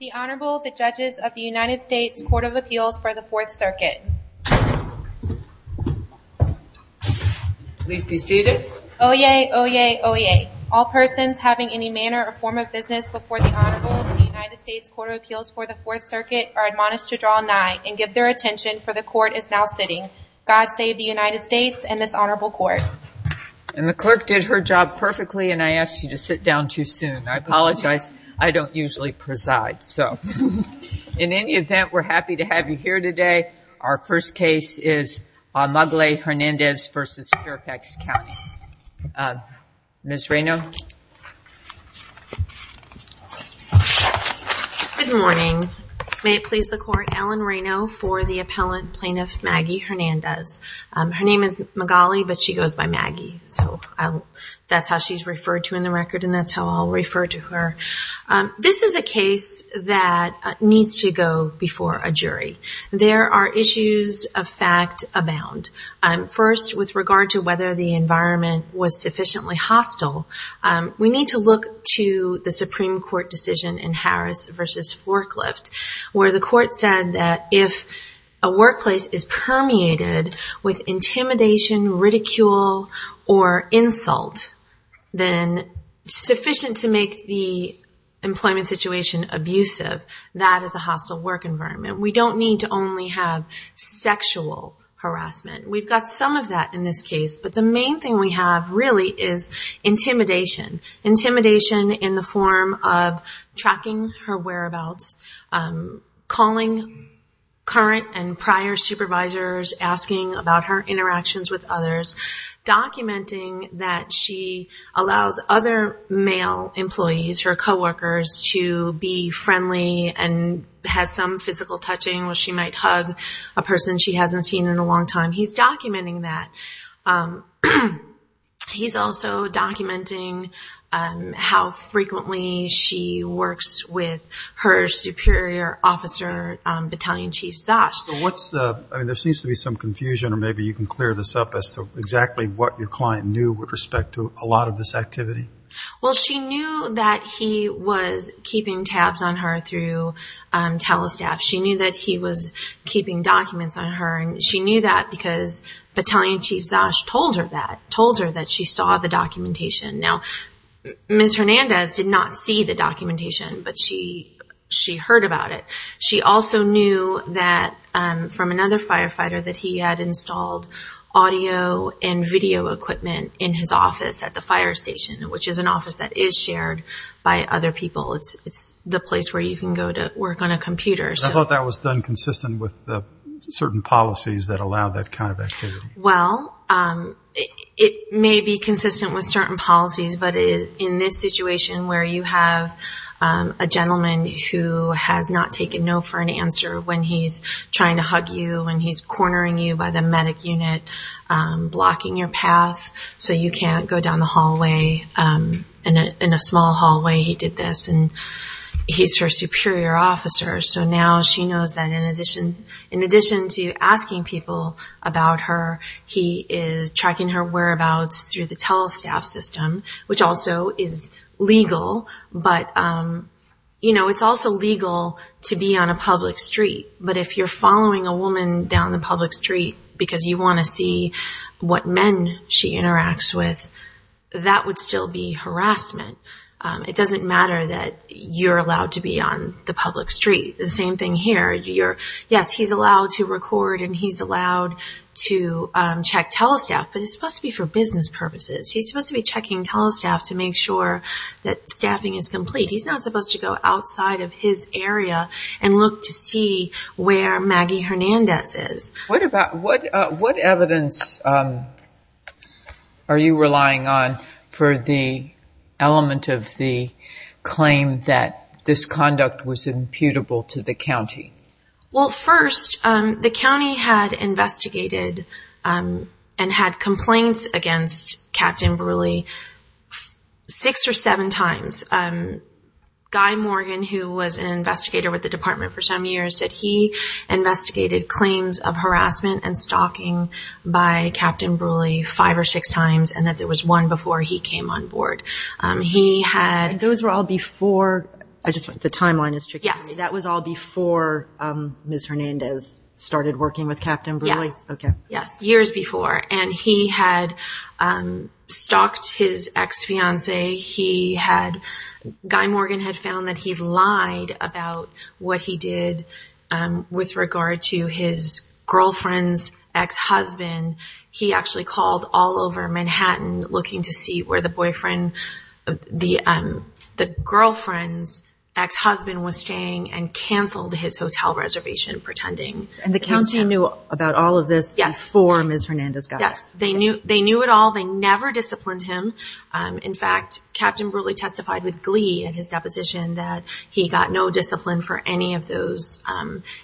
The Honorable, the Judges of the United States Court of Appeals for the Fourth Circuit. Please be seated. Oyez, oyez, oyez. All persons having any manner or form of business before the Honorable of the United States Court of Appeals for the Fourth Circuit are admonished to draw nigh and give their attention, for the Court is now sitting. God save the United States and this Honorable Court. And the clerk did her job perfectly and I asked you to sit down too soon. I apologize, I don't usually preside. In any event, we're happy to have you here today. Our first case is Magaly Hernandez v. Fairfax County. Ms. Reyno. Good morning. May it please the Court, Ellen Reyno for the Appellant Plaintiff Maggie Hernandez. Her name is Magaly, but she goes by Maggie, so that's how she's referred to in the record and that's how I'll refer to her. This is a case that needs to go before a jury. There are issues of fact abound. First, with regard to whether the environment was sufficiently hostile, we need to look to the Supreme Court decision in Harris v. Forklift, where the Court said that if a workplace is permeated with intimidation, ridicule, or insult, then sufficient to make the employment situation abusive, that is a hostile work environment. We don't need to only have sexual harassment. We've got some of that in this case, but the main thing we have really is intimidation. Intimidation in the form of tracking her whereabouts, calling current and prior supervisors, asking about her interactions with others, documenting that she allows other male employees, her coworkers, to be friendly and have some physical touching where she might hug a person she hasn't seen in a long time. He's documenting that. He's also documenting how frequently she works with her superior officer, Battalion Chief Zosh. There seems to be some confusion, or maybe you can clear this up, as to exactly what your client knew with respect to a lot of this activity? Well, she knew that he was keeping tabs on her through Telestaff. She knew that he was keeping documents on her, and she knew that because Battalion Chief Zosh told her that, told her that she saw the documentation. Now, Ms. Hernandez did not see the documentation, but she heard about it. She also knew that from another firefighter that he had installed audio and video equipment in his office at the fire station, which is an office that is shared by other people. It's the place where you can go to work on a computer. I thought that was done consistent with certain policies that allow that kind of activity. Well, it may be consistent with certain policies, but in this situation where you have a gentleman who has not taken no for an answer when he's trying to hug you, when he's cornering you by the medic unit, blocking your path, so you can't go down the hallway. In a small hallway, he did this, and he's her superior officer, so now she knows that in addition to asking people about her, he is tracking her whereabouts through the Telestaff system, which also is legal, but it's also legal to be on a public street. But if you're following a woman down the public street because you want to see what men she interacts with, that would still be harassment. It doesn't matter that you're allowed to be on the public street. Yes, he's allowed to record and he's allowed to check Telestaff, but it's supposed to be for business purposes. He's supposed to be checking Telestaff to make sure that staffing is complete. He's not supposed to go outside of his area and look to see where Maggie Hernandez is. What evidence are you relying on for the element of the claim that this conduct was imputable to the county? Well, first, the county had investigated and had complaints against Captain Brule six or seven times. Guy Morgan, who was an investigator with the department for some years, said he investigated claims of harassment and stalking by Captain Brule five or six times, and that there was one before he came on board. The timeline is tricking me. That was all before Ms. Hernandez started working with Captain Brule? Yes, years before, and he had stalked his ex-fiancee. Guy Morgan had found that he'd lied about what he did with regard to his girlfriend's ex-husband. He actually called all over Manhattan looking to see where the girlfriend's ex-husband was staying and canceled his hotel reservation, pretending. And the county knew about all of this before Ms. Hernandez got here? Yes, they knew it all. They never disciplined him. In fact, Captain Brule testified with glee at his deposition that he got no discipline for any of those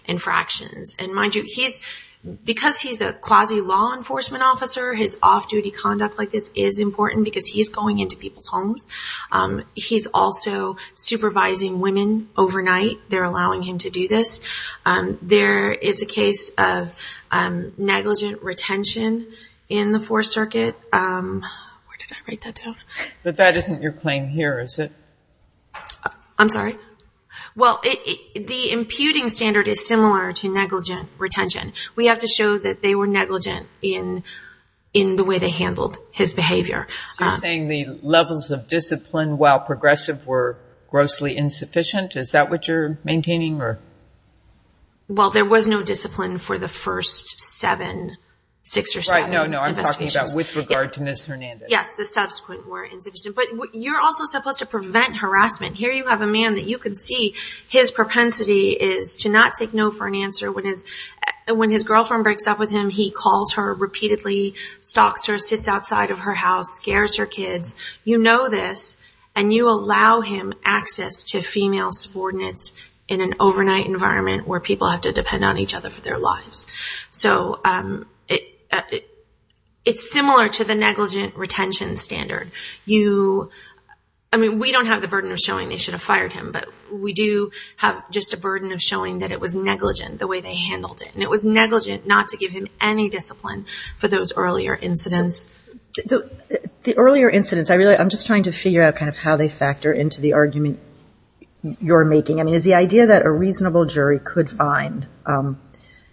infractions. And mind you, because he's a quasi-law enforcement officer, his off-duty conduct like this is important because he's going into people's homes. He's also supervising women overnight. They're allowing him to do this. There is a case of negligent retention in the Fourth Circuit. Where did I write that down? But that isn't your claim here, is it? I'm sorry? Well, the imputing standard is similar to negligent retention. We have to show that they were negligent in the way they handled his behavior. You're saying the levels of discipline while progressive were grossly insufficient? Is that what you're maintaining? Well, there was no discipline for the first seven, six or seven investigations. Right, no, no, I'm talking about with regard to Ms. Hernandez. But you're also supposed to prevent harassment. Here you have a man that you can see his propensity is to not take no for an answer. When his girlfriend breaks up with him, he calls her repeatedly, stalks her, sits outside of her house, scares her kids. You know this and you allow him access to female subordinates in an overnight environment where people have to depend on each other for their lives. So it's similar to the negligent retention standard. I mean, we don't have the burden of showing they should have fired him, but we do have just a burden of showing that it was negligent the way they handled it. And it was negligent not to give him any discipline for those earlier incidents. The earlier incidents, I'm just trying to figure out kind of how they factor into the argument you're making. I mean, is the idea that a reasonable jury could find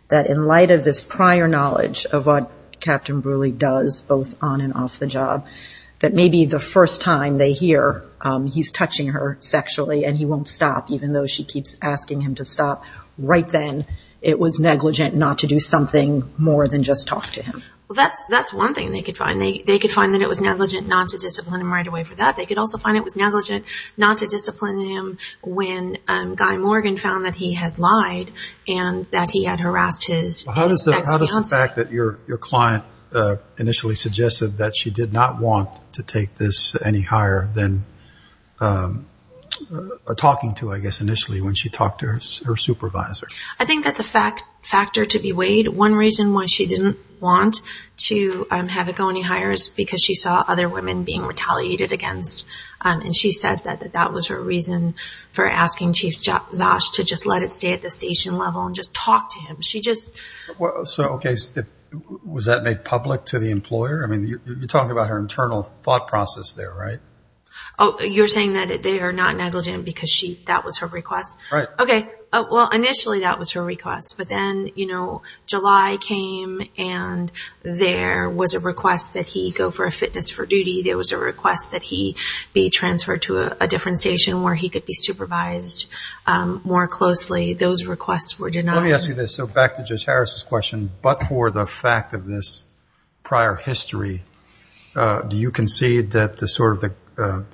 that in light of this prior knowledge of what Captain Brewerly does both on and off the job, that maybe the first time they hear he's touching her sexually and he won't stop, even though she keeps asking him to stop, right then it was negligent not to do something more than just talk to him? That's one thing they could find. They could find that it was negligent not to discipline him right away for that. They could also find it was negligent not to discipline him when Guy Morgan found that he had lied and that he had harassed his ex-fiancée. How does the fact that your client initially suggested that she did not want to take this any higher than talking to, I guess, initially when she talked to her supervisor? I think that's a factor to be weighed. One reason why she didn't want to have it go any higher is because she saw other women being retaliated against. She says that that was her reason for asking Chief Zosh to just let it stay at the station level and just talk to him. Was that made public to the employer? I mean, you're talking about her internal thought process there, right? You're saying that they are not negligent because that was her request? Right. Okay. Well, initially that was her request. But then, you know, July came and there was a request that he go for a fitness for duty. There was a request that he be transferred to a different station where he could be supervised more closely. Those requests were denied. Let me ask you this. So back to Judge Harris's question, but for the fact of this prior history, do you concede that the sort of the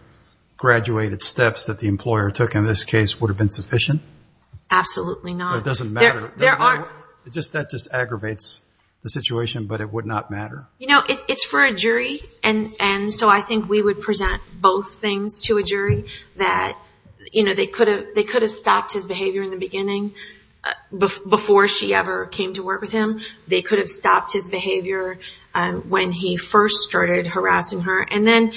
graduated steps that the employer took in this case would have been sufficient? Absolutely not. So it doesn't matter? That just aggravates the situation, but it would not matter? You know, it's for a jury, and so I think we would present both things to a jury that, you know, they could have stopped his behavior in the beginning before she ever came to work with him. They could have stopped his behavior when he first started harassing her. And then,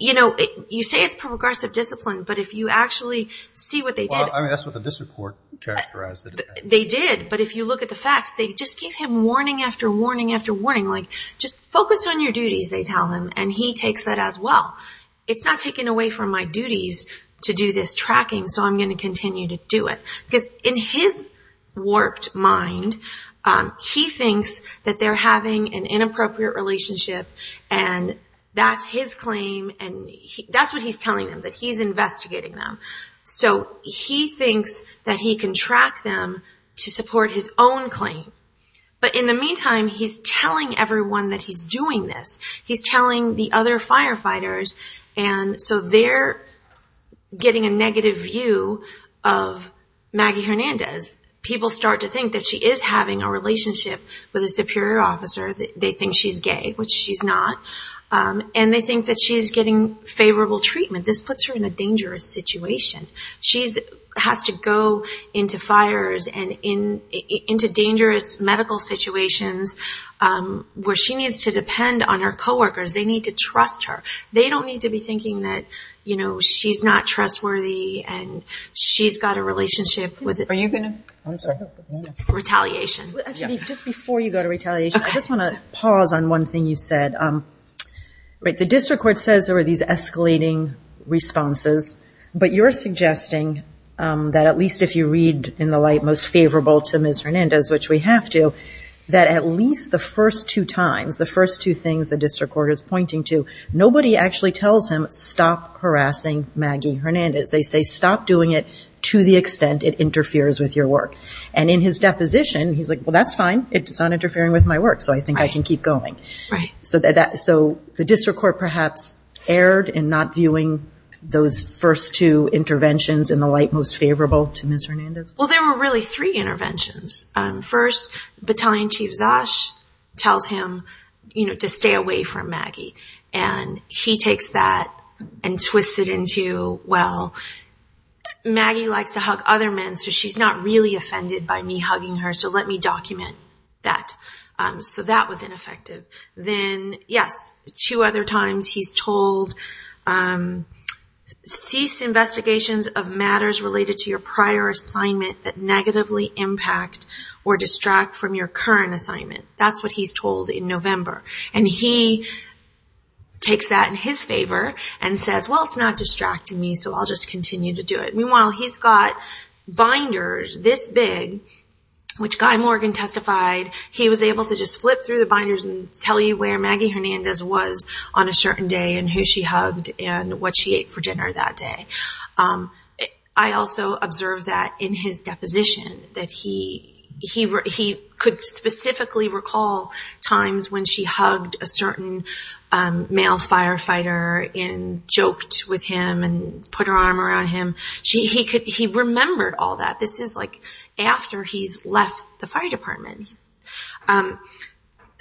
you know, you say it's progressive discipline, but if you actually see what they did. Well, I mean, that's what the district court characterized it as. They did. But if you look at the facts, they just gave him warning after warning after warning. Like, just focus on your duties, they tell him, and he takes that as well. It's not taking away from my duties to do this tracking, so I'm going to continue to do it. Because in his warped mind, he thinks that they're having an inappropriate relationship, and that's his claim, and that's what he's telling them, that he's investigating them. So he thinks that he can track them to support his own claim. But in the meantime, he's telling everyone that he's doing this. He's telling the other firefighters, and so they're getting a negative view of Maggie Hernandez. People start to think that she is having a relationship with a superior officer. They think she's gay, which she's not. And they think that she's getting favorable treatment. This puts her in a dangerous situation. She has to go into fires and into dangerous medical situations where she needs to depend on her coworkers. They need to trust her. They don't need to be thinking that she's not trustworthy and she's got a relationship with retaliation. Actually, just before you go to retaliation, I just want to pause on one thing you said. The district court says there were these escalating responses, but you're suggesting that at least if you read in the light most favorable to Ms. Hernandez, which we have to, that at least the first two times, the first two things the district court is pointing to, nobody actually tells him, stop harassing Maggie Hernandez. They say, stop doing it to the extent it interferes with your work. And in his deposition, he's like, well, that's fine. It's not interfering with my work, so I think I can keep going. So the district court perhaps erred in not viewing those first two interventions in the light most favorable to Ms. Hernandez? Well, there were really three interventions. First, Battalion Chief Zosh tells him to stay away from Maggie, and he takes that and twists it into, well, Maggie likes to hug other men, so she's not really offended by me hugging her, so let me document that. So that was ineffective. Then, yes, two other times he's told, cease investigations of matters related to your prior assignment that negatively impact or distract from your current assignment. That's what he's told in November. And he takes that in his favor and says, well, it's not distracting me, so I'll just continue to do it. Meanwhile, he's got binders this big, which Guy Morgan testified he was able to just flip through the binders and tell you where Maggie Hernandez was on a certain day and who she hugged and what she ate for dinner that day. I also observed that in his deposition, that he could specifically recall times when she hugged a certain male firefighter and joked with him and put her arm around him. He remembered all that. This is, like, after he's left the fire department.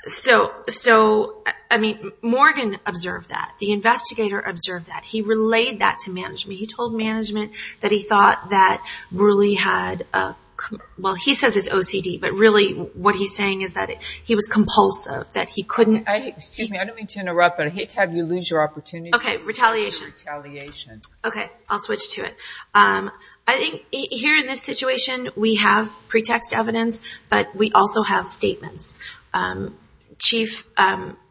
So, I mean, Morgan observed that. The investigator observed that. He relayed that to management. He told management that he thought that really had a, well, he says it's OCD, but really what he's saying is that he was compulsive, that he couldn't. Excuse me, I don't mean to interrupt, but I hate to have you lose your opportunity. Okay, retaliation. Retaliation. Okay, I'll switch to it. I think here in this situation we have pretext evidence, but we also have statements. Chief,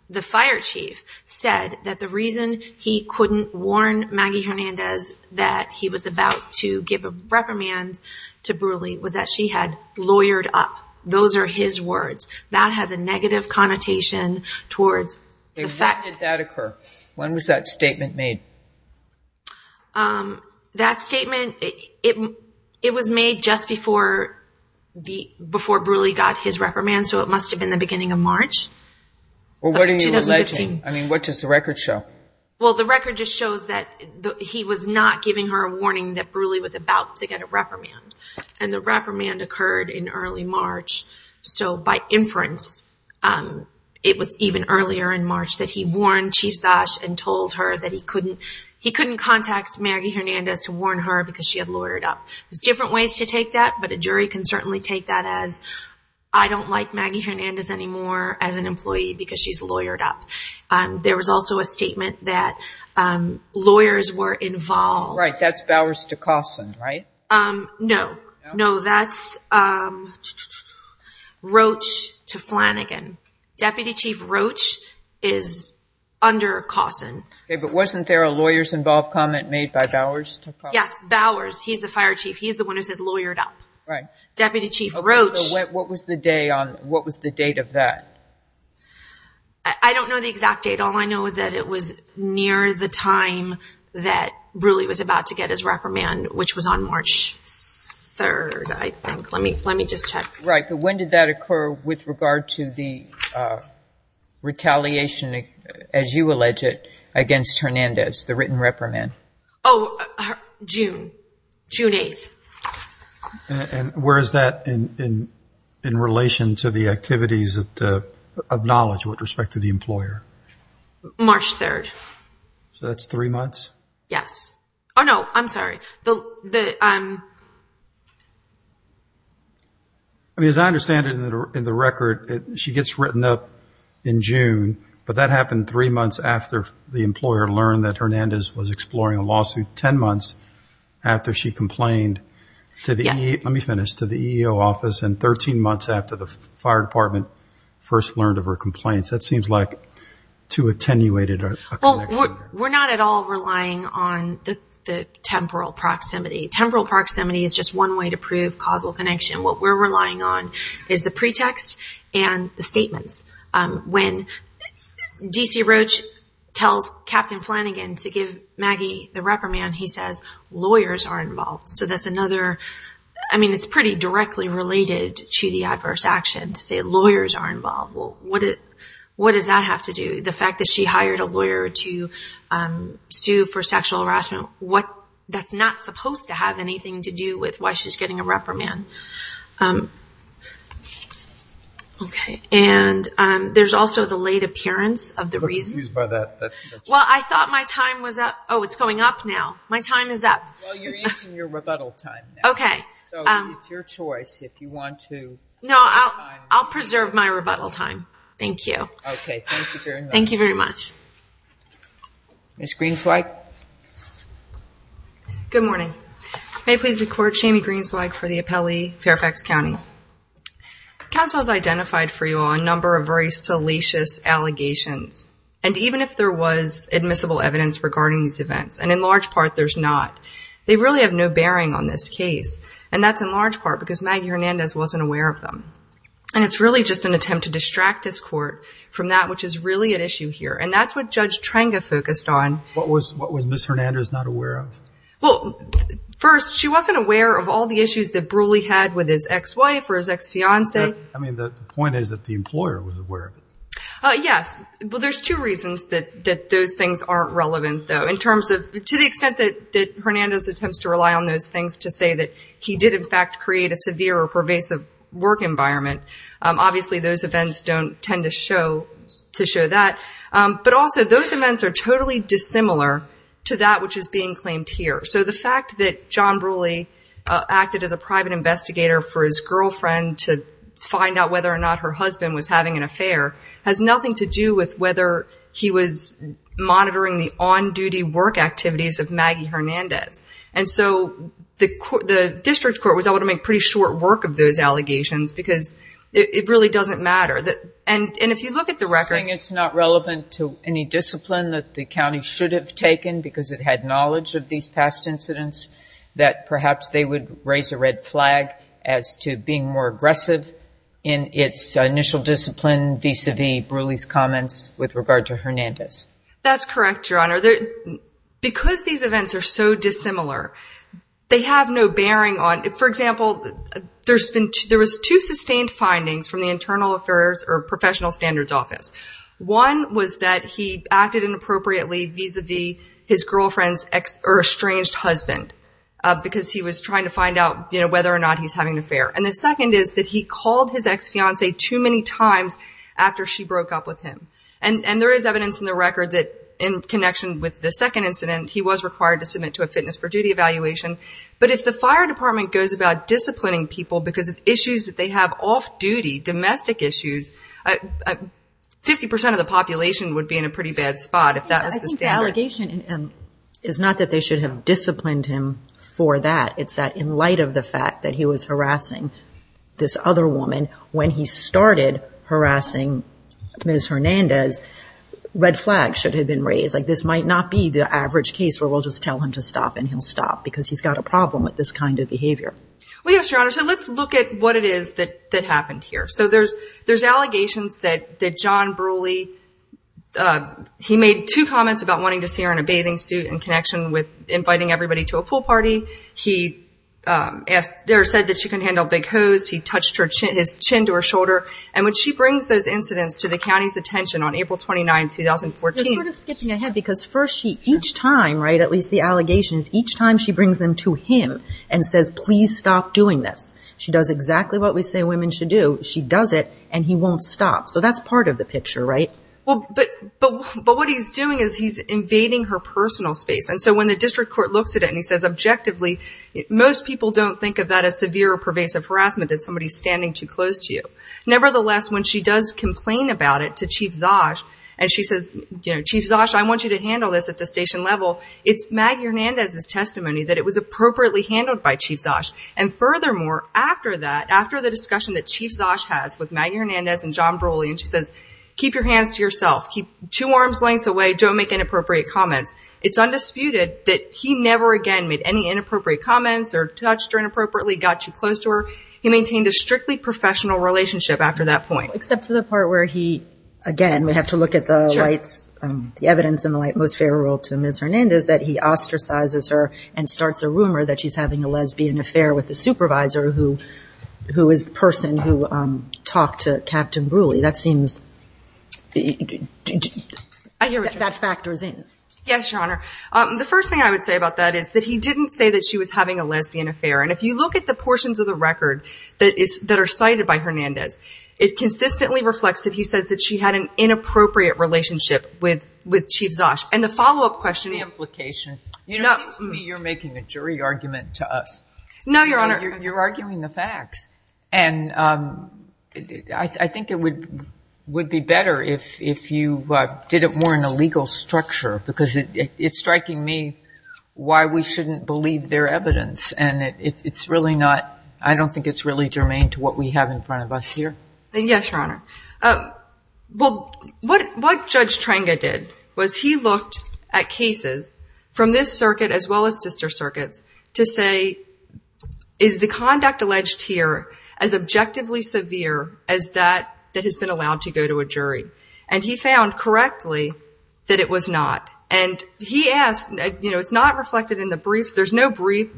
the fire chief, said that the reason he couldn't warn Maggie Hernandez that he was about to give a reprimand to Brulee was that she had lawyered up. Those are his words. That has a negative connotation towards the fact. When did that occur? When was that statement made? That statement, it was made just before Brulee got his reprimand, so it must have been the beginning of March of 2015. Well, what are you alleging? I mean, what does the record show? Well, the record just shows that he was not giving her a warning that Brulee was about to get a reprimand, and the reprimand occurred in early March. So, by inference, it was even earlier in March that he warned Chief Szasz and told her that he couldn't contact Maggie Hernandez to warn her because she had lawyered up. There's different ways to take that, but a jury can certainly take that as, I don't like Maggie Hernandez anymore as an employee because she's lawyered up. There was also a statement that lawyers were involved. Right. That's Bowers to Cawson, right? No. No, that's Roach to Flanagan. Deputy Chief Roach is under Cawson. Okay, but wasn't there a lawyers involved comment made by Bowers to Cawson? Yes, Bowers. He's the fire chief. He's the one who said lawyered up. Right. Deputy Chief Roach. Okay, so what was the date of that? I don't know the exact date. All I know is that it was near the time that Brulee was about to get his reprimand, which was on March 3rd, I think. Let me just check. Right, but when did that occur with regard to the retaliation, as you allege it, against Hernandez, the written reprimand? Oh, June, June 8th. And where is that in relation to the activities of knowledge with respect to the employer? March 3rd. So that's three months? Yes. Oh, no, I'm sorry. I mean, as I understand it in the record, she gets written up in June, but that happened three months after the employer learned that Hernandez was exploring a lawsuit, ten months after she complained to the EEO office, and 13 months after the fire department first learned of her complaints. That seems like too attenuated a connection. We're not at all relying on the temporal proximity. Temporal proximity is just one way to prove causal connection. What we're relying on is the pretext and the statements. When D.C. Roach tells Captain Flanagan to give Maggie the reprimand, he says, lawyers are involved. So that's another, I mean, it's pretty directly related to the adverse action to say lawyers are involved. What does that have to do? The fact that she hired a lawyer to sue for sexual harassment, that's not supposed to have anything to do with why she's getting a reprimand. Okay. And there's also the late appearance of the reason. I'm confused by that. Well, I thought my time was up. Oh, it's going up now. My time is up. Well, you're using your rebuttal time now. Okay. So it's your choice if you want to. No, I'll preserve my rebuttal time. Thank you. Okay, thank you very much. Thank you very much. Ms. Greenswag. Good morning. May it please the Court, Shami Greenswag for the appellee, Fairfax County. Counsel has identified for you all a number of very salacious allegations. And even if there was admissible evidence regarding these events, and in large part there's not, they really have no bearing on this case. And that's in large part because Maggie Hernandez wasn't aware of them. And it's really just an attempt to distract this Court from that which is really at issue here. And that's what Judge Trenga focused on. What was Ms. Hernandez not aware of? Well, first, she wasn't aware of all the issues that Brule had with his ex-wife or his ex-fiance. I mean, the point is that the employer was aware of it. Yes. Well, there's two reasons that those things aren't relevant, though. In terms of, to the extent that Hernandez attempts to rely on those things to say that he did in fact create a severe or pervasive work environment, obviously those events don't tend to show that. But also, those events are totally dissimilar to that which is being claimed here. So the fact that John Brule acted as a private investigator for his girlfriend to find out whether or not her husband was having an affair has nothing to do with whether he was monitoring the on-duty work activities of Maggie Hernandez. And so the district court was able to make pretty short work of those allegations because it really doesn't matter. And if you look at the record. Saying it's not relevant to any discipline that the county should have taken because it had knowledge of these past incidents, that perhaps they would raise a red flag as to being more aggressive in its initial discipline vis-à-vis Brule's comments with regard to Hernandez. That's correct, Your Honor. Because these events are so dissimilar, they have no bearing on. For example, there was two sustained findings from the Internal Affairs or Professional Standards Office. One was that he acted inappropriately vis-à-vis his girlfriend's estranged husband because he was trying to find out whether or not he was having an affair. And the second is that he called his ex-fiance too many times after she broke up with him. And there is evidence in the record that in connection with the second incident, he was required to submit to a fitness for duty evaluation. But if the fire department goes about disciplining people because of issues that they have off-duty, domestic issues, 50% of the population would be in a pretty bad spot if that was the standard. I think the allegation is not that they should have disciplined him for that. It's that in light of the fact that he was harassing this other woman when he started harassing Ms. Hernandez, red flags should have been raised. Like this might not be the average case where we'll just tell him to stop and he'll stop because he's got a problem with this kind of behavior. Well, yes, Your Honor. So let's look at what it is that happened here. So there's allegations that John Brule, he made two comments about wanting to see her in a bathing suit in connection with inviting everybody to a pool party. He said that she couldn't handle a big hose. He touched his chin to her shoulder. And when she brings those incidents to the county's attention on April 29, 2014. You're sort of skipping ahead because first she, each time, right, at least the allegations, each time she brings them to him and says, please stop doing this. She does exactly what we say women should do. She does it and he won't stop. So that's part of the picture, right? But what he's doing is he's invading her personal space. And so when the district court looks at it and he says objectively, most people don't think of that as severe or pervasive harassment, that somebody's standing too close to you. Nevertheless, when she does complain about it to Chief Zosh, and she says, you know, Chief Zosh, I want you to handle this at the station level, it's Maggie Hernandez's testimony that it was appropriately handled by Chief Zosh. And furthermore, after that, after the discussion that Chief Zosh has with Maggie Hernandez and John Brule, and she says, keep your hands to yourself, keep two arms lengths away, don't make inappropriate comments. It's undisputed that he never again made any inappropriate comments or touched her inappropriately, got too close to her. He maintained a strictly professional relationship after that point. Except for the part where he, again, we have to look at the evidence in the light most favorable to Ms. Hernandez, that he ostracizes her and starts a rumor that she's having a lesbian affair with the supervisor who is the person who talked to Captain Brule. That seems, that factors in. Yes, Your Honor. The first thing I would say about that is that he didn't say that she was having a lesbian affair. And if you look at the portions of the record that are cited by Hernandez, it consistently reflects that he says that she had an inappropriate relationship with Chief Zosh. And the follow-up question. The implication. No. It seems to me you're making a jury argument to us. No, Your Honor. You're arguing the facts. And I think it would be better if you did it more in a legal structure. Because it's striking me why we shouldn't believe their evidence. And it's really not, I don't think it's really germane to what we have in front of us here. Yes, Your Honor. What Judge Trenga did was he looked at cases from this circuit as well as sister circuits to say, is the conduct alleged here as objectively severe as that that has been allowed to go to a jury? And he found correctly that it was not. And he asked, you know, it's not reflected in the briefs. There's no brief,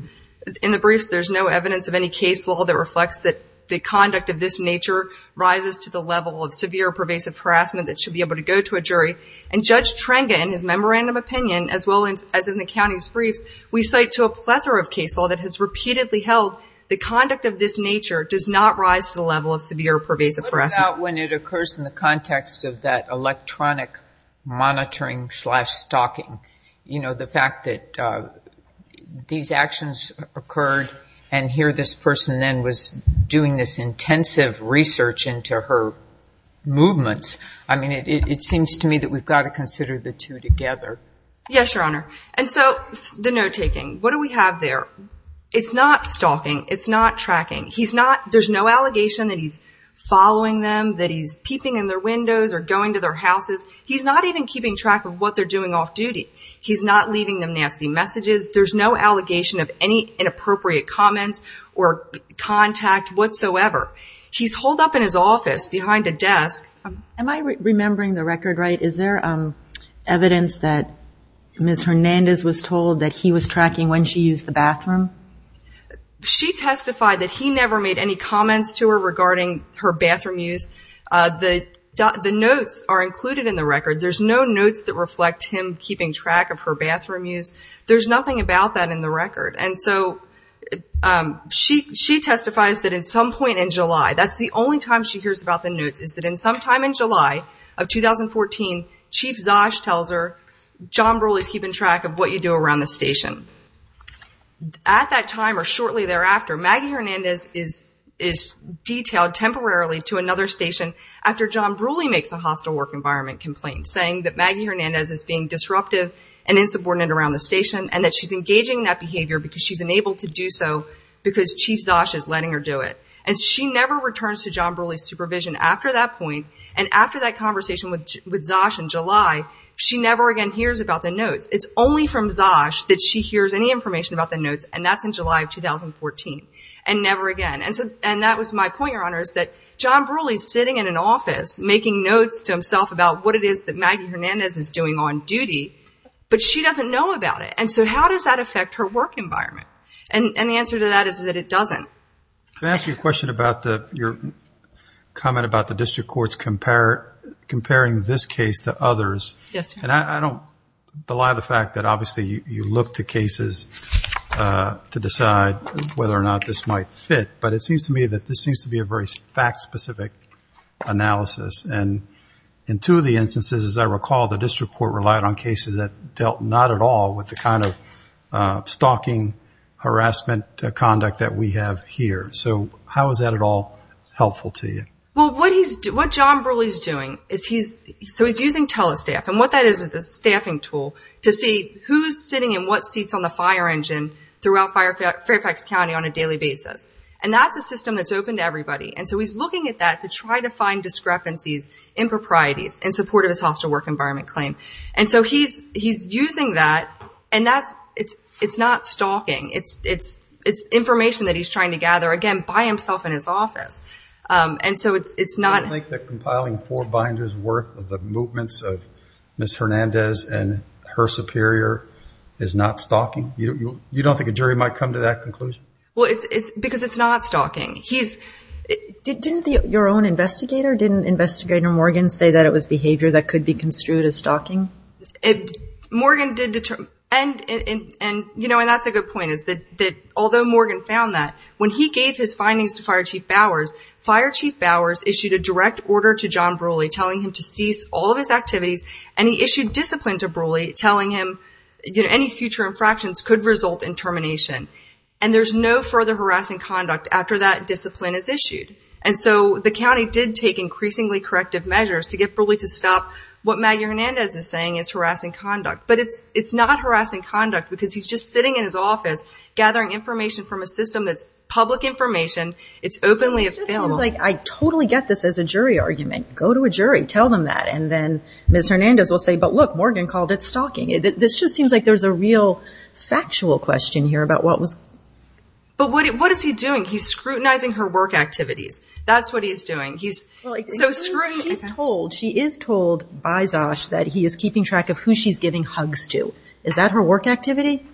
in the briefs there's no evidence of any case law that reflects that the conduct of this nature rises to the level of severe pervasive harassment that should be able to go to a jury. And Judge Trenga, in his memorandum opinion, as well as in the county's briefs, we cite to a plethora of case law that has repeatedly held the conduct of this nature does not rise to the level of severe pervasive harassment. When it occurs in the context of that electronic monitoring slash stalking, you know, the fact that these actions occurred and here this person then was doing this intensive research into her movements. I mean, it seems to me that we've got to consider the two together. Yes, Your Honor. And so the note taking, what do we have there? It's not stalking. It's not tracking. There's no allegation that he's following them, that he's peeping in their windows or going to their houses. He's not even keeping track of what they're doing off-duty. He's not leaving them nasty messages. There's no allegation of any inappropriate comments or contact whatsoever. He's holed up in his office behind a desk. Am I remembering the record right? Is there evidence that Ms. Hernandez was told that he was tracking when she used the bathroom? She testified that he never made any comments to her regarding her bathroom use. The notes are included in the record. There's no notes that reflect him keeping track of her bathroom use. There's nothing about that in the record. And so she testifies that at some point in July, that's the only time she hears about the notes, is that at some time in July of 2014, Chief Zosh tells her, John Brule is keeping track of what you do around the station. At that time or shortly thereafter, Maggie Hernandez is detailed temporarily to another station after John Brule makes a hostile work environment complaint, saying that Maggie Hernandez is being disruptive and insubordinate around the station, and that she's engaging in that behavior because she's unable to do so because Chief Zosh is letting her do it. And she never returns to John Brule's supervision after that point, and after that conversation with Zosh in July, she never again hears about the notes. It's only from Zosh that she hears any information about the notes, and that's in July of 2014, and never again. And that was my point, Your Honor, is that John Brule is sitting in an office making notes to himself about what it is that Maggie Hernandez is doing on duty, but she doesn't know about it. And so how does that affect her work environment? And the answer to that is that it doesn't. Can I ask you a question about your comment about the district courts comparing this case to others? Yes, Your Honor. And I don't belie the fact that, obviously, you look to cases to decide whether or not this might fit, but it seems to me that this seems to be a very fact-specific analysis. And in two of the instances, as I recall, the district court relied on cases that dealt not at all with the kind of stalking harassment conduct that we have here. So how is that at all helpful to you? Well, what John Brule is doing is he's using telestaff, and what that is is a staffing tool to see who's sitting in what seats on the fire engine throughout Fairfax County on a daily basis. And that's a system that's open to everybody. And so he's looking at that to try to find discrepancies, improprieties in support of his hostile work environment claim. And so he's using that, and it's not stalking. It's information that he's trying to gather, again, by himself in his office. Do you think that compiling four binders' worth of the movements of Ms. Hernandez and her superior is not stalking? You don't think a jury might come to that conclusion? Well, it's because it's not stalking. Didn't your own investigator, didn't Investigator Morgan, say that it was behavior that could be construed as stalking? Morgan did, and that's a good point, is that although Morgan found that, when he gave his findings to Fire Chief Bowers, Fire Chief Bowers issued a direct order to John Brooley telling him to cease all of his activities, and he issued discipline to Brooley, telling him any future infractions could result in termination. And there's no further harassing conduct after that discipline is issued. And so the county did take increasingly corrective measures to get Brooley to stop what Maggie Hernandez is saying is harassing conduct. But it's not harassing conduct because he's just sitting in his office gathering information from a system that's public information. It's openly a film. It just seems like I totally get this as a jury argument. Go to a jury. Tell them that. And then Ms. Hernandez will say, but look, Morgan called it stalking. This just seems like there's a real factual question here about what was. But what is he doing? He's scrutinizing her work activities. That's what he's doing. He's so scrutinizing. She is told by Zosh that he is keeping track of who she's giving hugs to. Is that her work activity?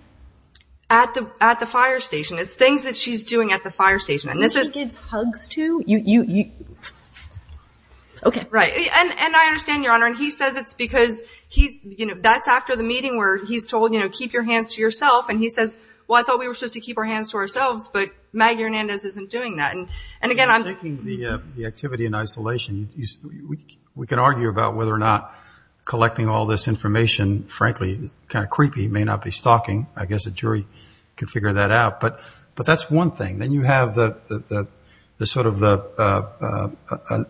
At the fire station. It's things that she's doing at the fire station. And this is. Who she gives hugs to? Okay. Right. And I understand, Your Honor, and he says it's because he's, you know, that's after the meeting where he's told, you know, keep your hands to yourself. And he says, well, I thought we were supposed to keep our hands to ourselves, but Maggie Hernandez isn't doing that. And, again, I'm. Taking the activity in isolation. We can argue about whether or not collecting all this information, frankly, is kind of creepy, may not be stalking. I guess a jury can figure that out. But that's one thing. Then you have the sort of the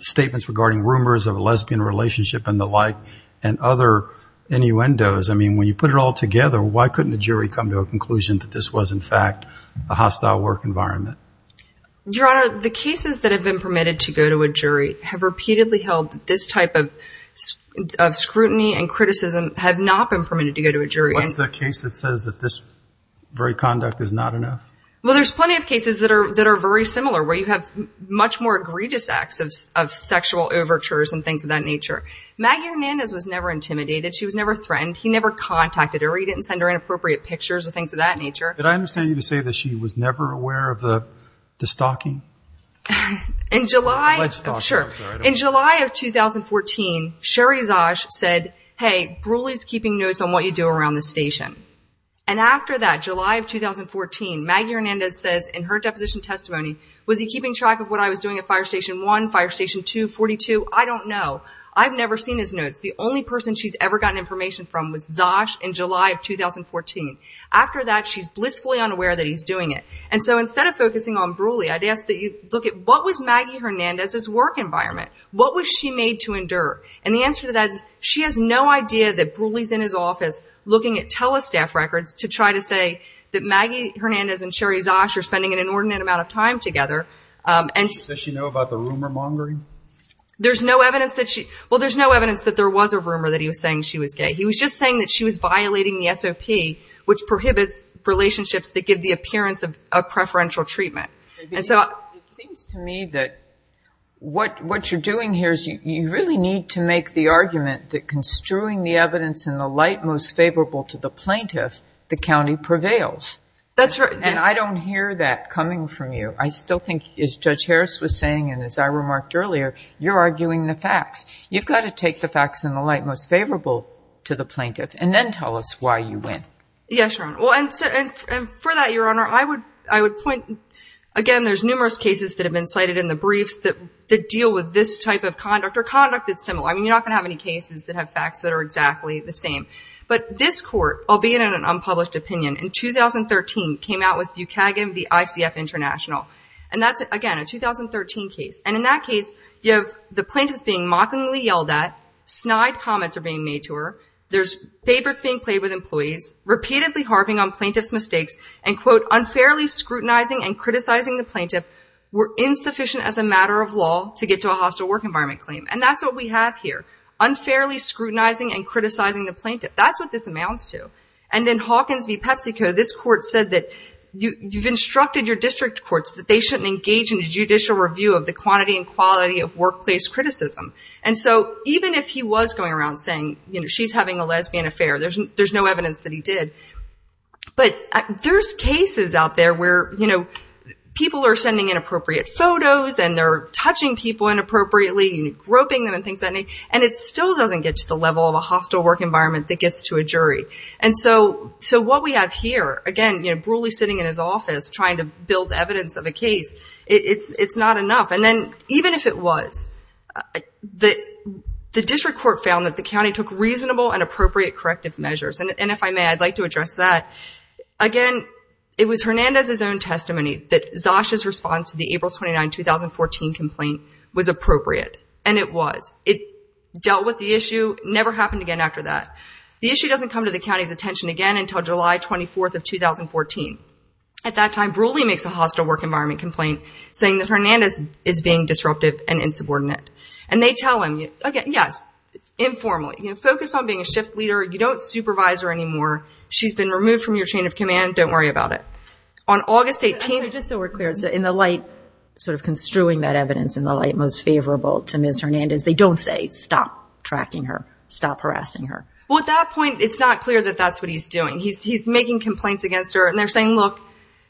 statements regarding rumors of a lesbian relationship and the like and other innuendos. I mean, when you put it all together, why couldn't the jury come to a conclusion that this was, in fact, a hostile work environment? Your Honor, the cases that have been permitted to go to a jury have repeatedly held that this type of scrutiny and criticism have not been permitted to go to a jury. What's the case that says that this very conduct is not enough? Well, there's plenty of cases that are very similar, where you have much more egregious acts of sexual overtures and things of that nature. Maggie Hernandez was never intimidated. She was never threatened. He never contacted her. He didn't send her inappropriate pictures or things of that nature. Did I understand you to say that she was never aware of the stalking? In July. In July of 2014, Sherry Zosh said, hey, Brulee's keeping notes on what you do around the station. And after that, July of 2014, Maggie Hernandez says in her deposition testimony, was he keeping track of what I was doing at Fire Station 1, Fire Station 2, 42? I don't know. I've never seen his notes. The only person she's ever gotten information from was Zosh in July of 2014. After that, she's blissfully unaware that he's doing it. And so instead of focusing on Brulee, I'd ask that you look at what was Maggie Hernandez's work environment? What was she made to endure? And the answer to that is she has no idea that Brulee's in his office looking at telestaff records to try to say that Maggie Hernandez and Sherry Zosh are spending an inordinate amount of time together. Does she know about the rumor mongering? There's no evidence that she – well, there's no evidence that there was a rumor that he was saying she was gay. He was just saying that she was violating the SOP, which prohibits relationships that give the appearance of preferential treatment. It seems to me that what you're doing here is you really need to make the argument that construing the evidence in the light most favorable to the plaintiff, the county prevails. That's right. And I don't hear that coming from you. I still think, as Judge Harris was saying and as I remarked earlier, you're arguing the facts. You've got to take the facts in the light most favorable to the plaintiff and then tell us why you win. Yes, Your Honor. Well, and for that, Your Honor, I would point, again, there's numerous cases that have been cited in the briefs that deal with this type of conduct or conduct that's similar. I mean, you're not going to have any cases that have facts that are exactly the same. But this court, albeit in an unpublished opinion, in 2013 came out with Buchagin v. ICF International. And that's, again, a 2013 case. And in that case, you have the plaintiff's being mockingly yelled at, snide comments are being made to her, there's favorites being played with employees, repeatedly harping on plaintiff's mistakes, and, quote, unfairly scrutinizing and criticizing the plaintiff were insufficient as a matter of law to get to a hostile work environment claim. And that's what we have here. Unfairly scrutinizing and criticizing the plaintiff. That's what this amounts to. And in Hawkins v. PepsiCo, this court said that you've instructed your district courts that they shouldn't engage in a judicial review of the quantity and quality of workplace criticism. And so even if he was going around saying, you know, she's having a lesbian affair, there's no evidence that he did. But there's cases out there where, you know, people are sending inappropriate photos and they're touching people inappropriately and groping them and things of that nature, and it still doesn't get to the level of a hostile work environment that gets to a jury. And so what we have here, again, you know, Brule sitting in his office trying to build evidence of a case, it's not enough. And then even if it was, the district court found that the county took reasonable and appropriate corrective measures. And if I may, I'd like to address that. Again, it was Hernandez's own testimony that Zosch's response to the April 29, 2014 complaint was appropriate. And it was. It dealt with the issue, never happened again after that. The issue doesn't come to the county's attention again until July 24th of 2014. At that time, Brule makes a hostile work environment complaint saying that Zosch is being disruptive and insubordinate. And they tell him, again, yes, informally, focus on being a shift leader. You don't supervise her anymore. She's been removed from your chain of command. Don't worry about it. On August 18th. Just so we're clear, in the light, sort of construing that evidence in the light most favorable to Ms. Hernandez, they don't say stop tracking her, stop harassing her. Well, at that point, it's not clear that that's what he's doing. He's making complaints against her and they're saying, look.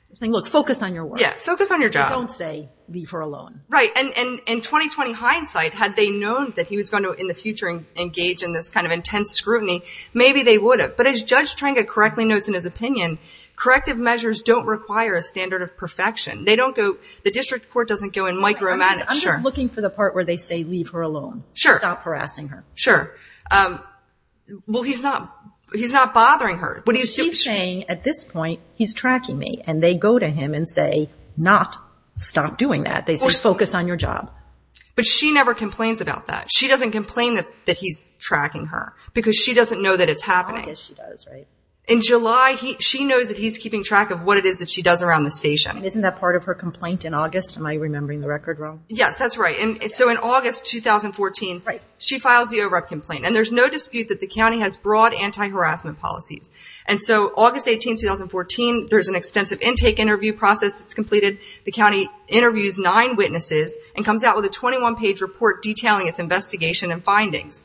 They're saying, look, focus on your work. Yeah. Focus on your job. They don't say leave her alone. Right. And in 2020 hindsight, had they known that he was going to, in the future, engage in this kind of intense scrutiny, maybe they would have. But as Judge Trenga correctly notes in his opinion, corrective measures don't require a standard of perfection. They don't go, the district court doesn't go and micromanage. I'm just looking for the part where they say leave her alone. Sure. Stop harassing her. Sure. Well, he's not, he's not bothering her. What he's saying at this point, he's tracking me. And they go to him and say, not stop doing that. They say, focus on your job. But she never complains about that. She doesn't complain that he's tracking her because she doesn't know that it's happening. I guess she does, right. In July, she knows that he's keeping track of what it is that she does around the station. Isn't that part of her complaint in August? Am I remembering the record wrong? Yes, that's right. And so in August 2014, she files the over-up complaint. And there's no dispute that the county has broad anti-harassment policies. And so August 18, 2014, there's an extensive intake interview process that's completed. The county interviews nine witnesses and comes out with a 21-page report detailing its investigation and findings.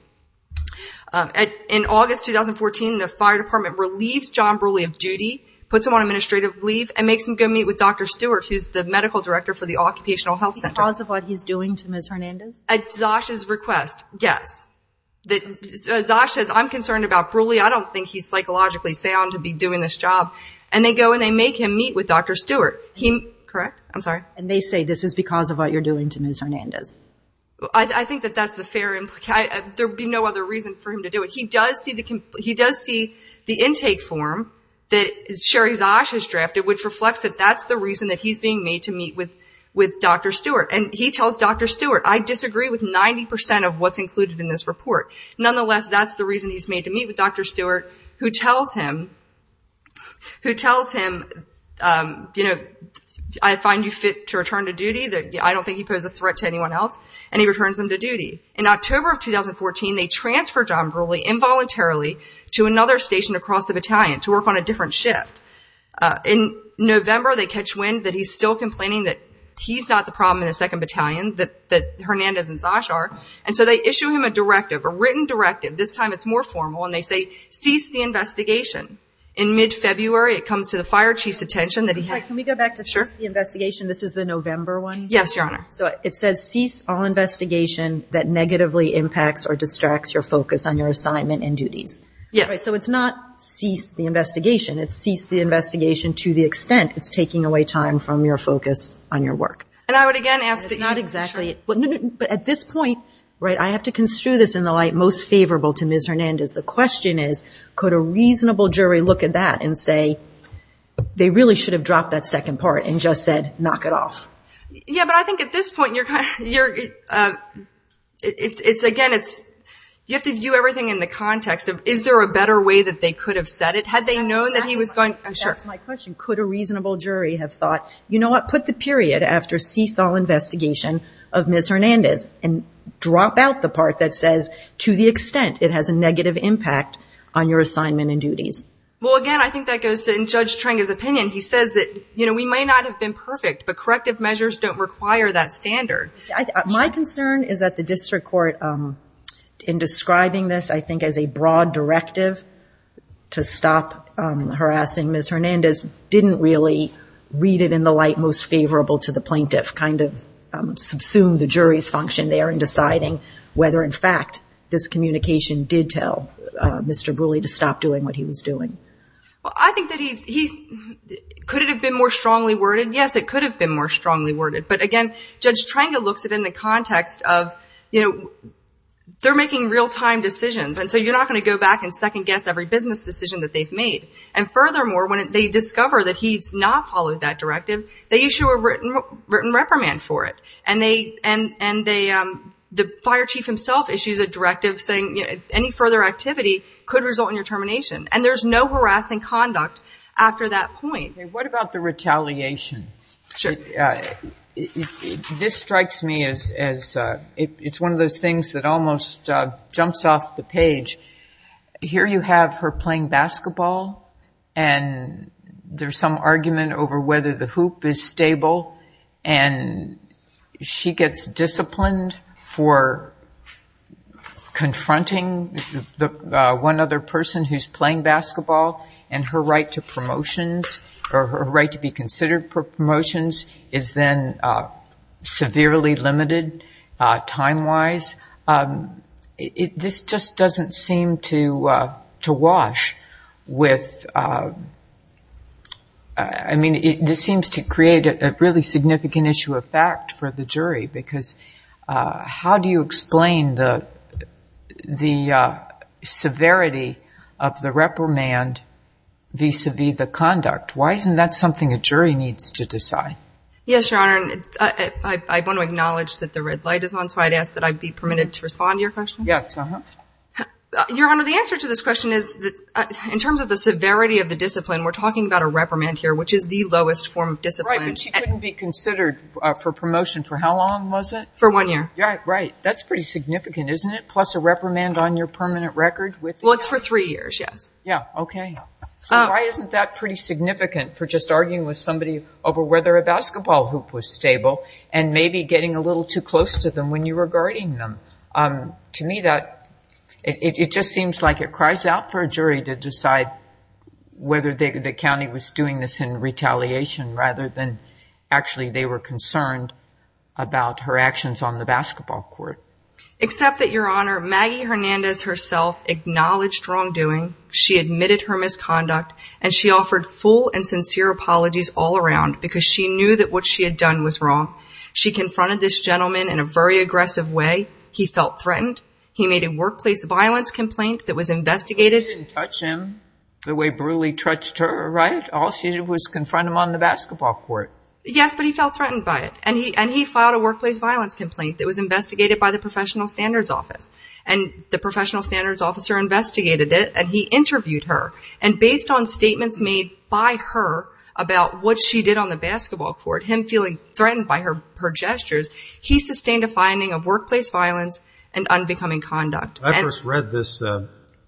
In August 2014, the fire department relieves John Brule of duty, puts him on administrative leave, and makes him go meet with Dr. Stewart, who's the medical director for the Occupational Health Center. Because of what he's doing to Ms. Hernandez? At Zosh's request, yes. Zosh says, I'm concerned about Brule. Actually, I don't think he's psychologically sound to be doing this job. And they go and they make him meet with Dr. Stewart. Correct? I'm sorry? And they say this is because of what you're doing to Ms. Hernandez. I think that that's the fair implication. There would be no other reason for him to do it. He does see the intake form that Sherry Zosh has drafted, which reflects that that's the reason that he's being made to meet with Dr. Stewart. And he tells Dr. Stewart, I disagree with 90% of what's included in this report. Nonetheless, that's the reason he's made to meet with Dr. Stewart, who tells him, you know, I find you fit to return to duty. I don't think you pose a threat to anyone else. And he returns him to duty. In October of 2014, they transfer John Brule involuntarily to another station across the battalion to work on a different shift. In November, they catch wind that he's still complaining that he's not the problem in the 2nd Battalion, that Hernandez and Zosh are. And so they issue him a directive, a written directive. This time it's more formal, and they say, cease the investigation. In mid-February, it comes to the fire chief's attention that he had. Can we go back to cease the investigation? This is the November one? Yes, Your Honor. So it says, cease all investigation that negatively impacts or distracts your focus on your assignment and duties. Yes. So it's not cease the investigation. It's cease the investigation to the extent it's taking away time from your focus on your work. And I would, again, ask that you make sure. But at this point, right, I have to construe this in the light most favorable to Ms. Hernandez. The question is, could a reasonable jury look at that and say, they really should have dropped that second part and just said, knock it off? Yeah, but I think at this point you're kind of, it's, again, it's, you have to view everything in the context of, is there a better way that they could have said it? Had they known that he was going to. That's my question. Could a reasonable jury have thought, you know what, put the period after cease all investigation of Ms. Hernandez and drop out the part that says to the extent it has a negative impact on your assignment and duties? Well, again, I think that goes to Judge Treng's opinion. He says that, you know, we may not have been perfect, but corrective measures don't require that standard. My concern is that the district court, in describing this, I think as a broad directive to stop harassing Ms. Hernandez, didn't really read it in the light most favorable to the plaintiff, kind of subsumed the jury's function there in deciding whether, in fact, this communication did tell Mr. Brule to stop doing what he was doing. Well, I think that he, could it have been more strongly worded? Yes, it could have been more strongly worded. But, again, Judge Treng looks at it in the context of, you know, they're making real-time decisions, and so you're not going to go back and second guess every business decision that they've made. And, furthermore, when they discover that he's not followed that directive, they issue a written reprimand for it. And the fire chief himself issues a directive saying, you know, any further activity could result in your termination. And there's no harassing conduct after that point. What about the retaliation? This strikes me as it's one of those things that almost jumps off the page. Here you have her playing basketball, and there's some argument over whether the hoop is stable, and she gets disciplined for confronting one other person who's playing basketball, and her right to promotions, or her right to be considered for promotions, is then severely limited time-wise. This just doesn't seem to wash with, I mean, this seems to create a really significant issue of fact for the jury, because how do you explain the severity of the reprimand vis-à-vis the conduct? Why isn't that something a jury needs to decide? Yes, Your Honor, and I want to acknowledge that the red light is on, so I'd ask that I be permitted to respond to your question. Yes. Your Honor, the answer to this question is, in terms of the severity of the discipline, we're talking about a reprimand here, which is the lowest form of discipline. Right, but she couldn't be considered for promotion. For how long was it? For one year. Right. That's pretty significant, isn't it, plus a reprimand on your permanent record? Well, it's for three years, yes. Yeah, okay. So why isn't that pretty significant for just arguing with somebody over whether a To me, it just seems like it cries out for a jury to decide whether the county was doing this in retaliation, rather than actually they were concerned about her actions on the basketball court. Except that, Your Honor, Maggie Hernandez herself acknowledged wrongdoing, she admitted her misconduct, and she offered full and sincere apologies all around, because she knew that what she had done was wrong. She confronted this gentleman in a very aggressive way. He felt threatened. He made a workplace violence complaint that was investigated. She didn't touch him the way Brulee touched her, right? All she did was confront him on the basketball court. Yes, but he felt threatened by it, and he filed a workplace violence complaint that was investigated by the Professional Standards Office. And the Professional Standards Officer investigated it, and he interviewed her. And based on statements made by her about what she did on the basketball court, him feeling threatened by her gestures, he sustained a finding of workplace violence and unbecoming conduct. I first read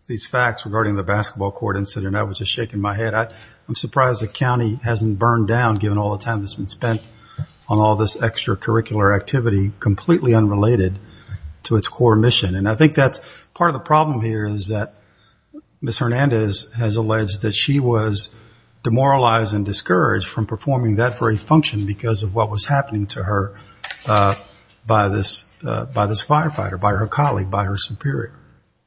these facts regarding the basketball court incident, and that was just shaking my head. I'm surprised the county hasn't burned down, given all the time that's been spent on all this extracurricular activity, completely unrelated to its core mission. And I think that's part of the problem here, is that Ms. Hernandez has alleged that she was demoralized and discouraged from performing that very function because of what was happening to her by this firefighter, by her colleague, by her superior.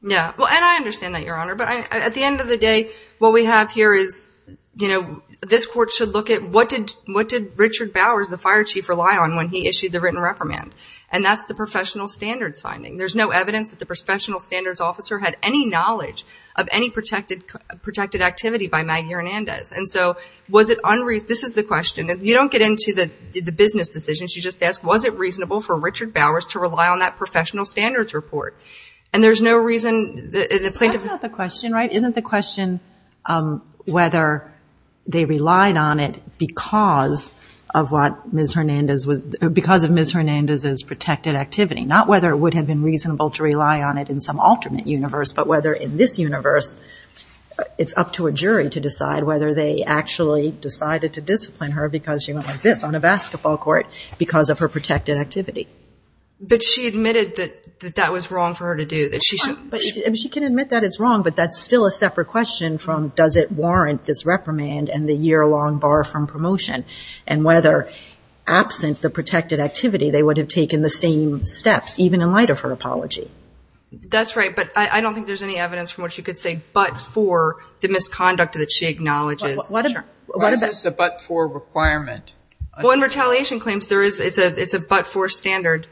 Yeah. Well, and I understand that, Your Honor. But at the end of the day, what we have here is, you know, this court should look at what did Richard Bowers, the fire chief, rely on when he issued the written reprimand? And that's the Professional Standards finding. There's no evidence that the Professional Standards Officer had any knowledge of any protected activity by Maggie Hernandez. This is the question. You don't get into the business decisions. You just ask, was it reasonable for Richard Bowers to rely on that Professional Standards report? And there's no reason. That's not the question, right? Isn't the question whether they relied on it because of Ms. Hernandez's protected activity, not whether it would have been reasonable to rely on it in some alternate universe, but whether in this universe it's up to a jury to decide whether they actually decided to discipline her because she went like this on a basketball court because of her protected activity. But she admitted that that was wrong for her to do. She can admit that it's wrong, but that's still a separate question from does it warrant this reprimand and the year-long bar from promotion, and whether absent the protected activity they would have taken the same steps, even in light of her apology. That's right, but I don't think there's any evidence from which you could say but for the Why is this a but-for requirement? Well, in retaliation claims, it's a but-for standard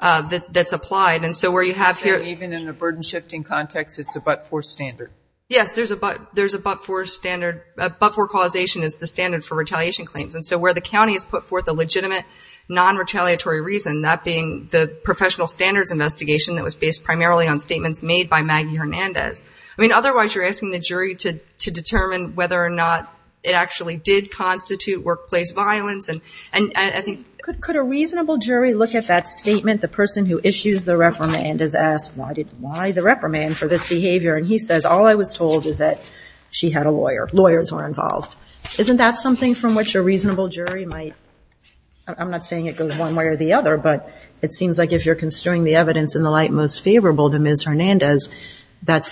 that's applied. And so where you have here Even in a burden-shifting context, it's a but-for standard. Yes, there's a but-for standard. A but-for causation is the standard for retaliation claims. And so where the county has put forth a legitimate non-retaliatory reason, that being the Professional Standards investigation that was based primarily on statements made by Maggie Hernandez. I mean, otherwise you're asking the jury to determine whether or not it actually did constitute workplace violence. And I think Could a reasonable jury look at that statement? The person who issues the reprimand is asked, Why the reprimand for this behavior? And he says, All I was told is that she had a lawyer. Lawyers were involved. Isn't that something from which a reasonable jury might I'm not saying it goes one way or the other, but it seems like if you're construing the evidence in the light most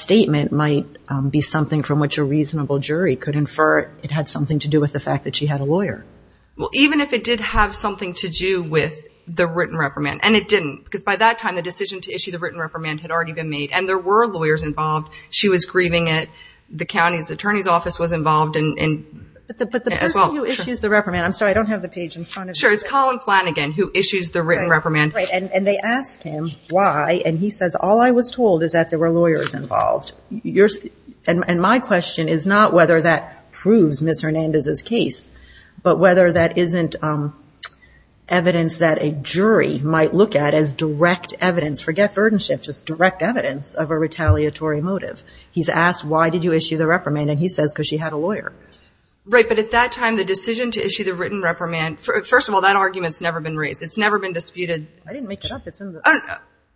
statement might be something from which a reasonable jury could infer it had something to do with the fact that she had a lawyer. Well, even if it did have something to do with the written reprimand, and it didn't, because by that time, the decision to issue the written reprimand had already been made, and there were lawyers involved. She was grieving it. The county's attorney's office was involved as well. But the person who issues the reprimand, I'm sorry, I don't have the page in front of me. Sure, it's Colin Flanagan who issues the written reprimand. Right, and they ask him why, and he says, all I was told is that there were lawyers involved. And my question is not whether that proves Ms. Hernandez's case, but whether that isn't evidence that a jury might look at as direct evidence. Forget burdenship, just direct evidence of a retaliatory motive. He's asked why did you issue the reprimand, and he says because she had a lawyer. Right, but at that time, the decision to issue the written reprimand, first of all, that argument's never been raised. It's never been disputed. I didn't make it up.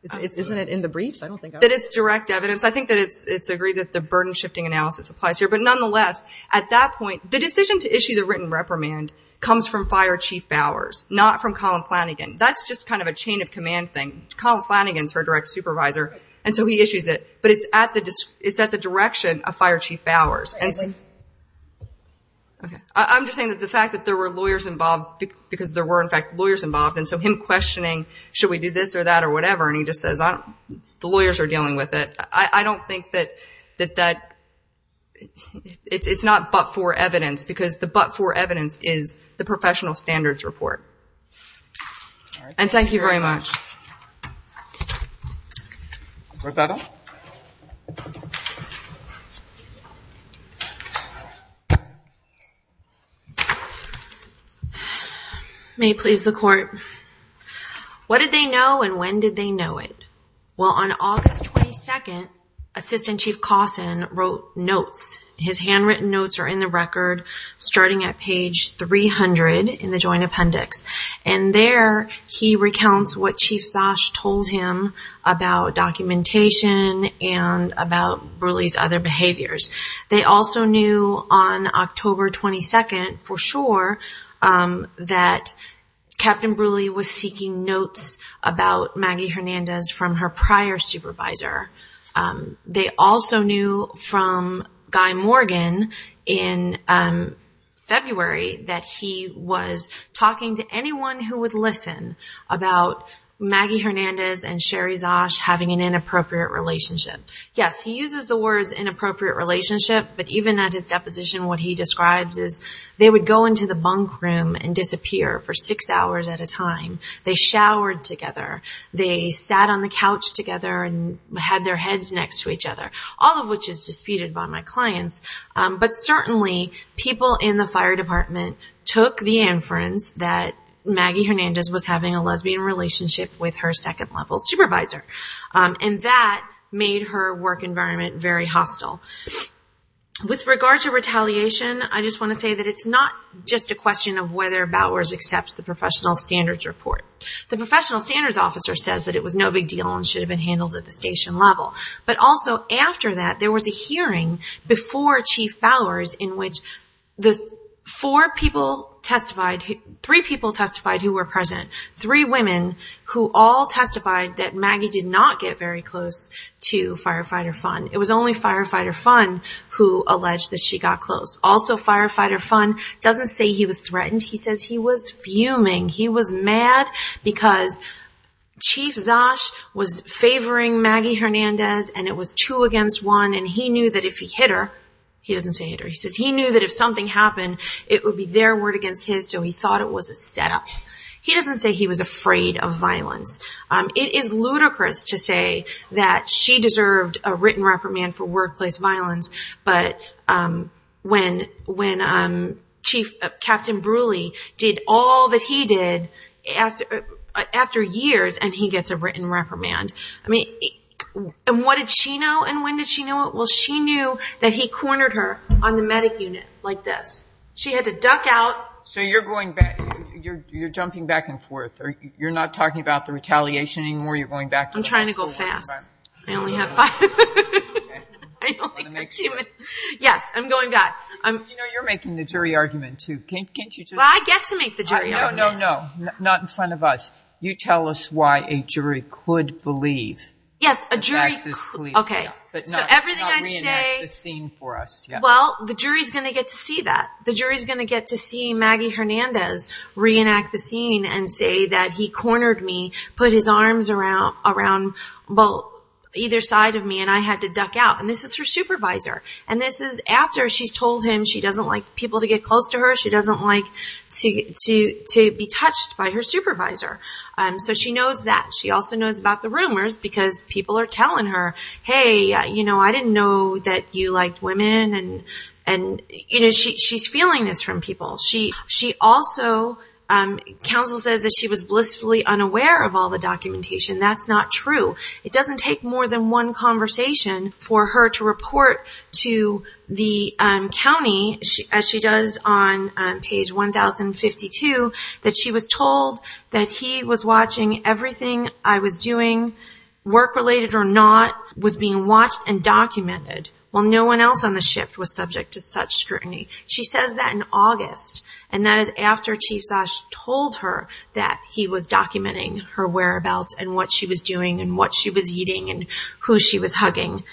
Isn't it in the briefs? That it's direct evidence. I think that it's agreed that the burden-shifting analysis applies here. But nonetheless, at that point, the decision to issue the written reprimand comes from Fire Chief Bowers, not from Colin Flanagan. That's just kind of a chain of command thing. Colin Flanagan's her direct supervisor, and so he issues it. But it's at the direction of Fire Chief Bowers. I'm just saying that the fact that there were lawyers involved, because there were, in fact, lawyers involved, and so him questioning should we do this or that or whatever, and he just says the lawyers are dealing with it. I don't think that it's not but-for evidence, because the but-for evidence is the professional standards report. And thank you very much. Write that up. May it please the Court. What did they know and when did they know it? Well, on August 22nd, Assistant Chief Cawson wrote notes. His handwritten notes are in the record, starting at page 300 in the Joint Appendix. And there he recounts what Chief Zosh told him about documentation and about Brule's other behaviors. They also knew on October 22nd for sure that Captain Brule was seeking notes about Maggie Hernandez from her prior supervisor. They also knew from Guy Morgan in February that he was talking to anyone who would listen about Maggie Hernandez and Sherry Zosh having an inappropriate relationship. Yes, he uses the words inappropriate relationship, but even at his deposition what he describes is they would go into the bunk room and disappear for six hours at a time. They showered together. They sat on the couch together and had their heads next to each other, all of which is disputed by my clients. But certainly people in the fire department took the inference that Maggie Hernandez was having a lesbian relationship with her second-level supervisor. And that made her work environment very hostile. With regard to retaliation, I just want to say that it's not just a question of whether Bowers accepts the professional standards report. The professional standards officer says that it was no big deal and should have been handled at the station level. But also after that there was a hearing before Chief Bowers in which the four people testified, three people testified who were present, three women who all testified that Maggie did not get very close to Firefighter Fun. It was only Firefighter Fun who alleged that she got close. Also Firefighter Fun doesn't say he was threatened. He says he was fuming. He was mad because Chief Zosh was favoring Maggie Hernandez and it was two against one. And he knew that if he hit her, he doesn't say hit her, he says he knew that if something happened it would be their word against his, so he thought it was a setup. He doesn't say he was afraid of violence. It is ludicrous to say that she deserved a written reprimand for workplace violence. But when Chief Captain Brule did all that he did after years and he gets a written reprimand. And what did she know and when did she know it? Well, she knew that he cornered her on the medic unit like this. She had to duck out. So you're going back, you're jumping back and forth. You're not talking about the retaliation anymore, you're going back to the school. I'm trying to go fast. I only have five minutes. I only have two minutes. Yes, I'm going back. You know, you're making the jury argument too. Can't you just. Well, I get to make the jury argument. No, no, no, not in front of us. You tell us why a jury could believe. Yes, a jury could. Okay, so everything I say. But not reenact the scene for us. Well, the jury is going to get to see that. The jury is going to get to see Maggie Hernandez reenact the scene and say that he cornered me, put his arms around either side of me, and I had to duck out. And this is her supervisor. And this is after she's told him she doesn't like people to get close to her. She doesn't like to be touched by her supervisor. So she knows that. She also knows about the rumors because people are telling her, hey, you know, I didn't know that you liked women. And, you know, she's feeling this from people. She also, counsel says that she was blissfully unaware of all the documentation. That's not true. It doesn't take more than one conversation for her to report to the county, as she does on page 1052, that she was told that he was watching everything I was doing, work-related or not, was being watched and documented, while no one else on the shift was subject to such scrutiny. She says that in August, and that is after Chief Zosh told her that he was documenting her whereabouts and what she was doing and what she was eating and who she was hugging.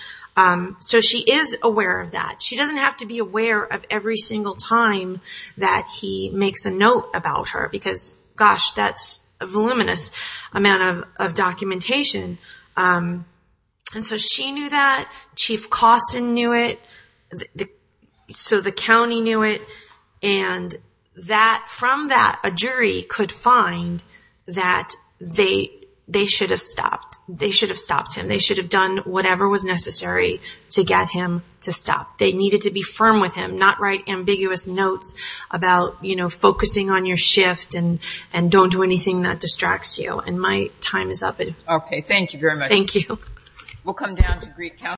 So she is aware of that. She doesn't have to be aware of every single time that he makes a note about her because, gosh, that's a voluminous amount of documentation. And so she knew that. Chief Koston knew it. So the county knew it. And from that, a jury could find that they should have stopped. They should have stopped him. They should have done whatever was necessary to get him to stop. They needed to be firm with him, not write ambiguous notes about, you know, focusing on your shift and don't do anything that distracts you. And my time is up. Okay. Thank you very much. Thank you. We'll come down to Greek counseling.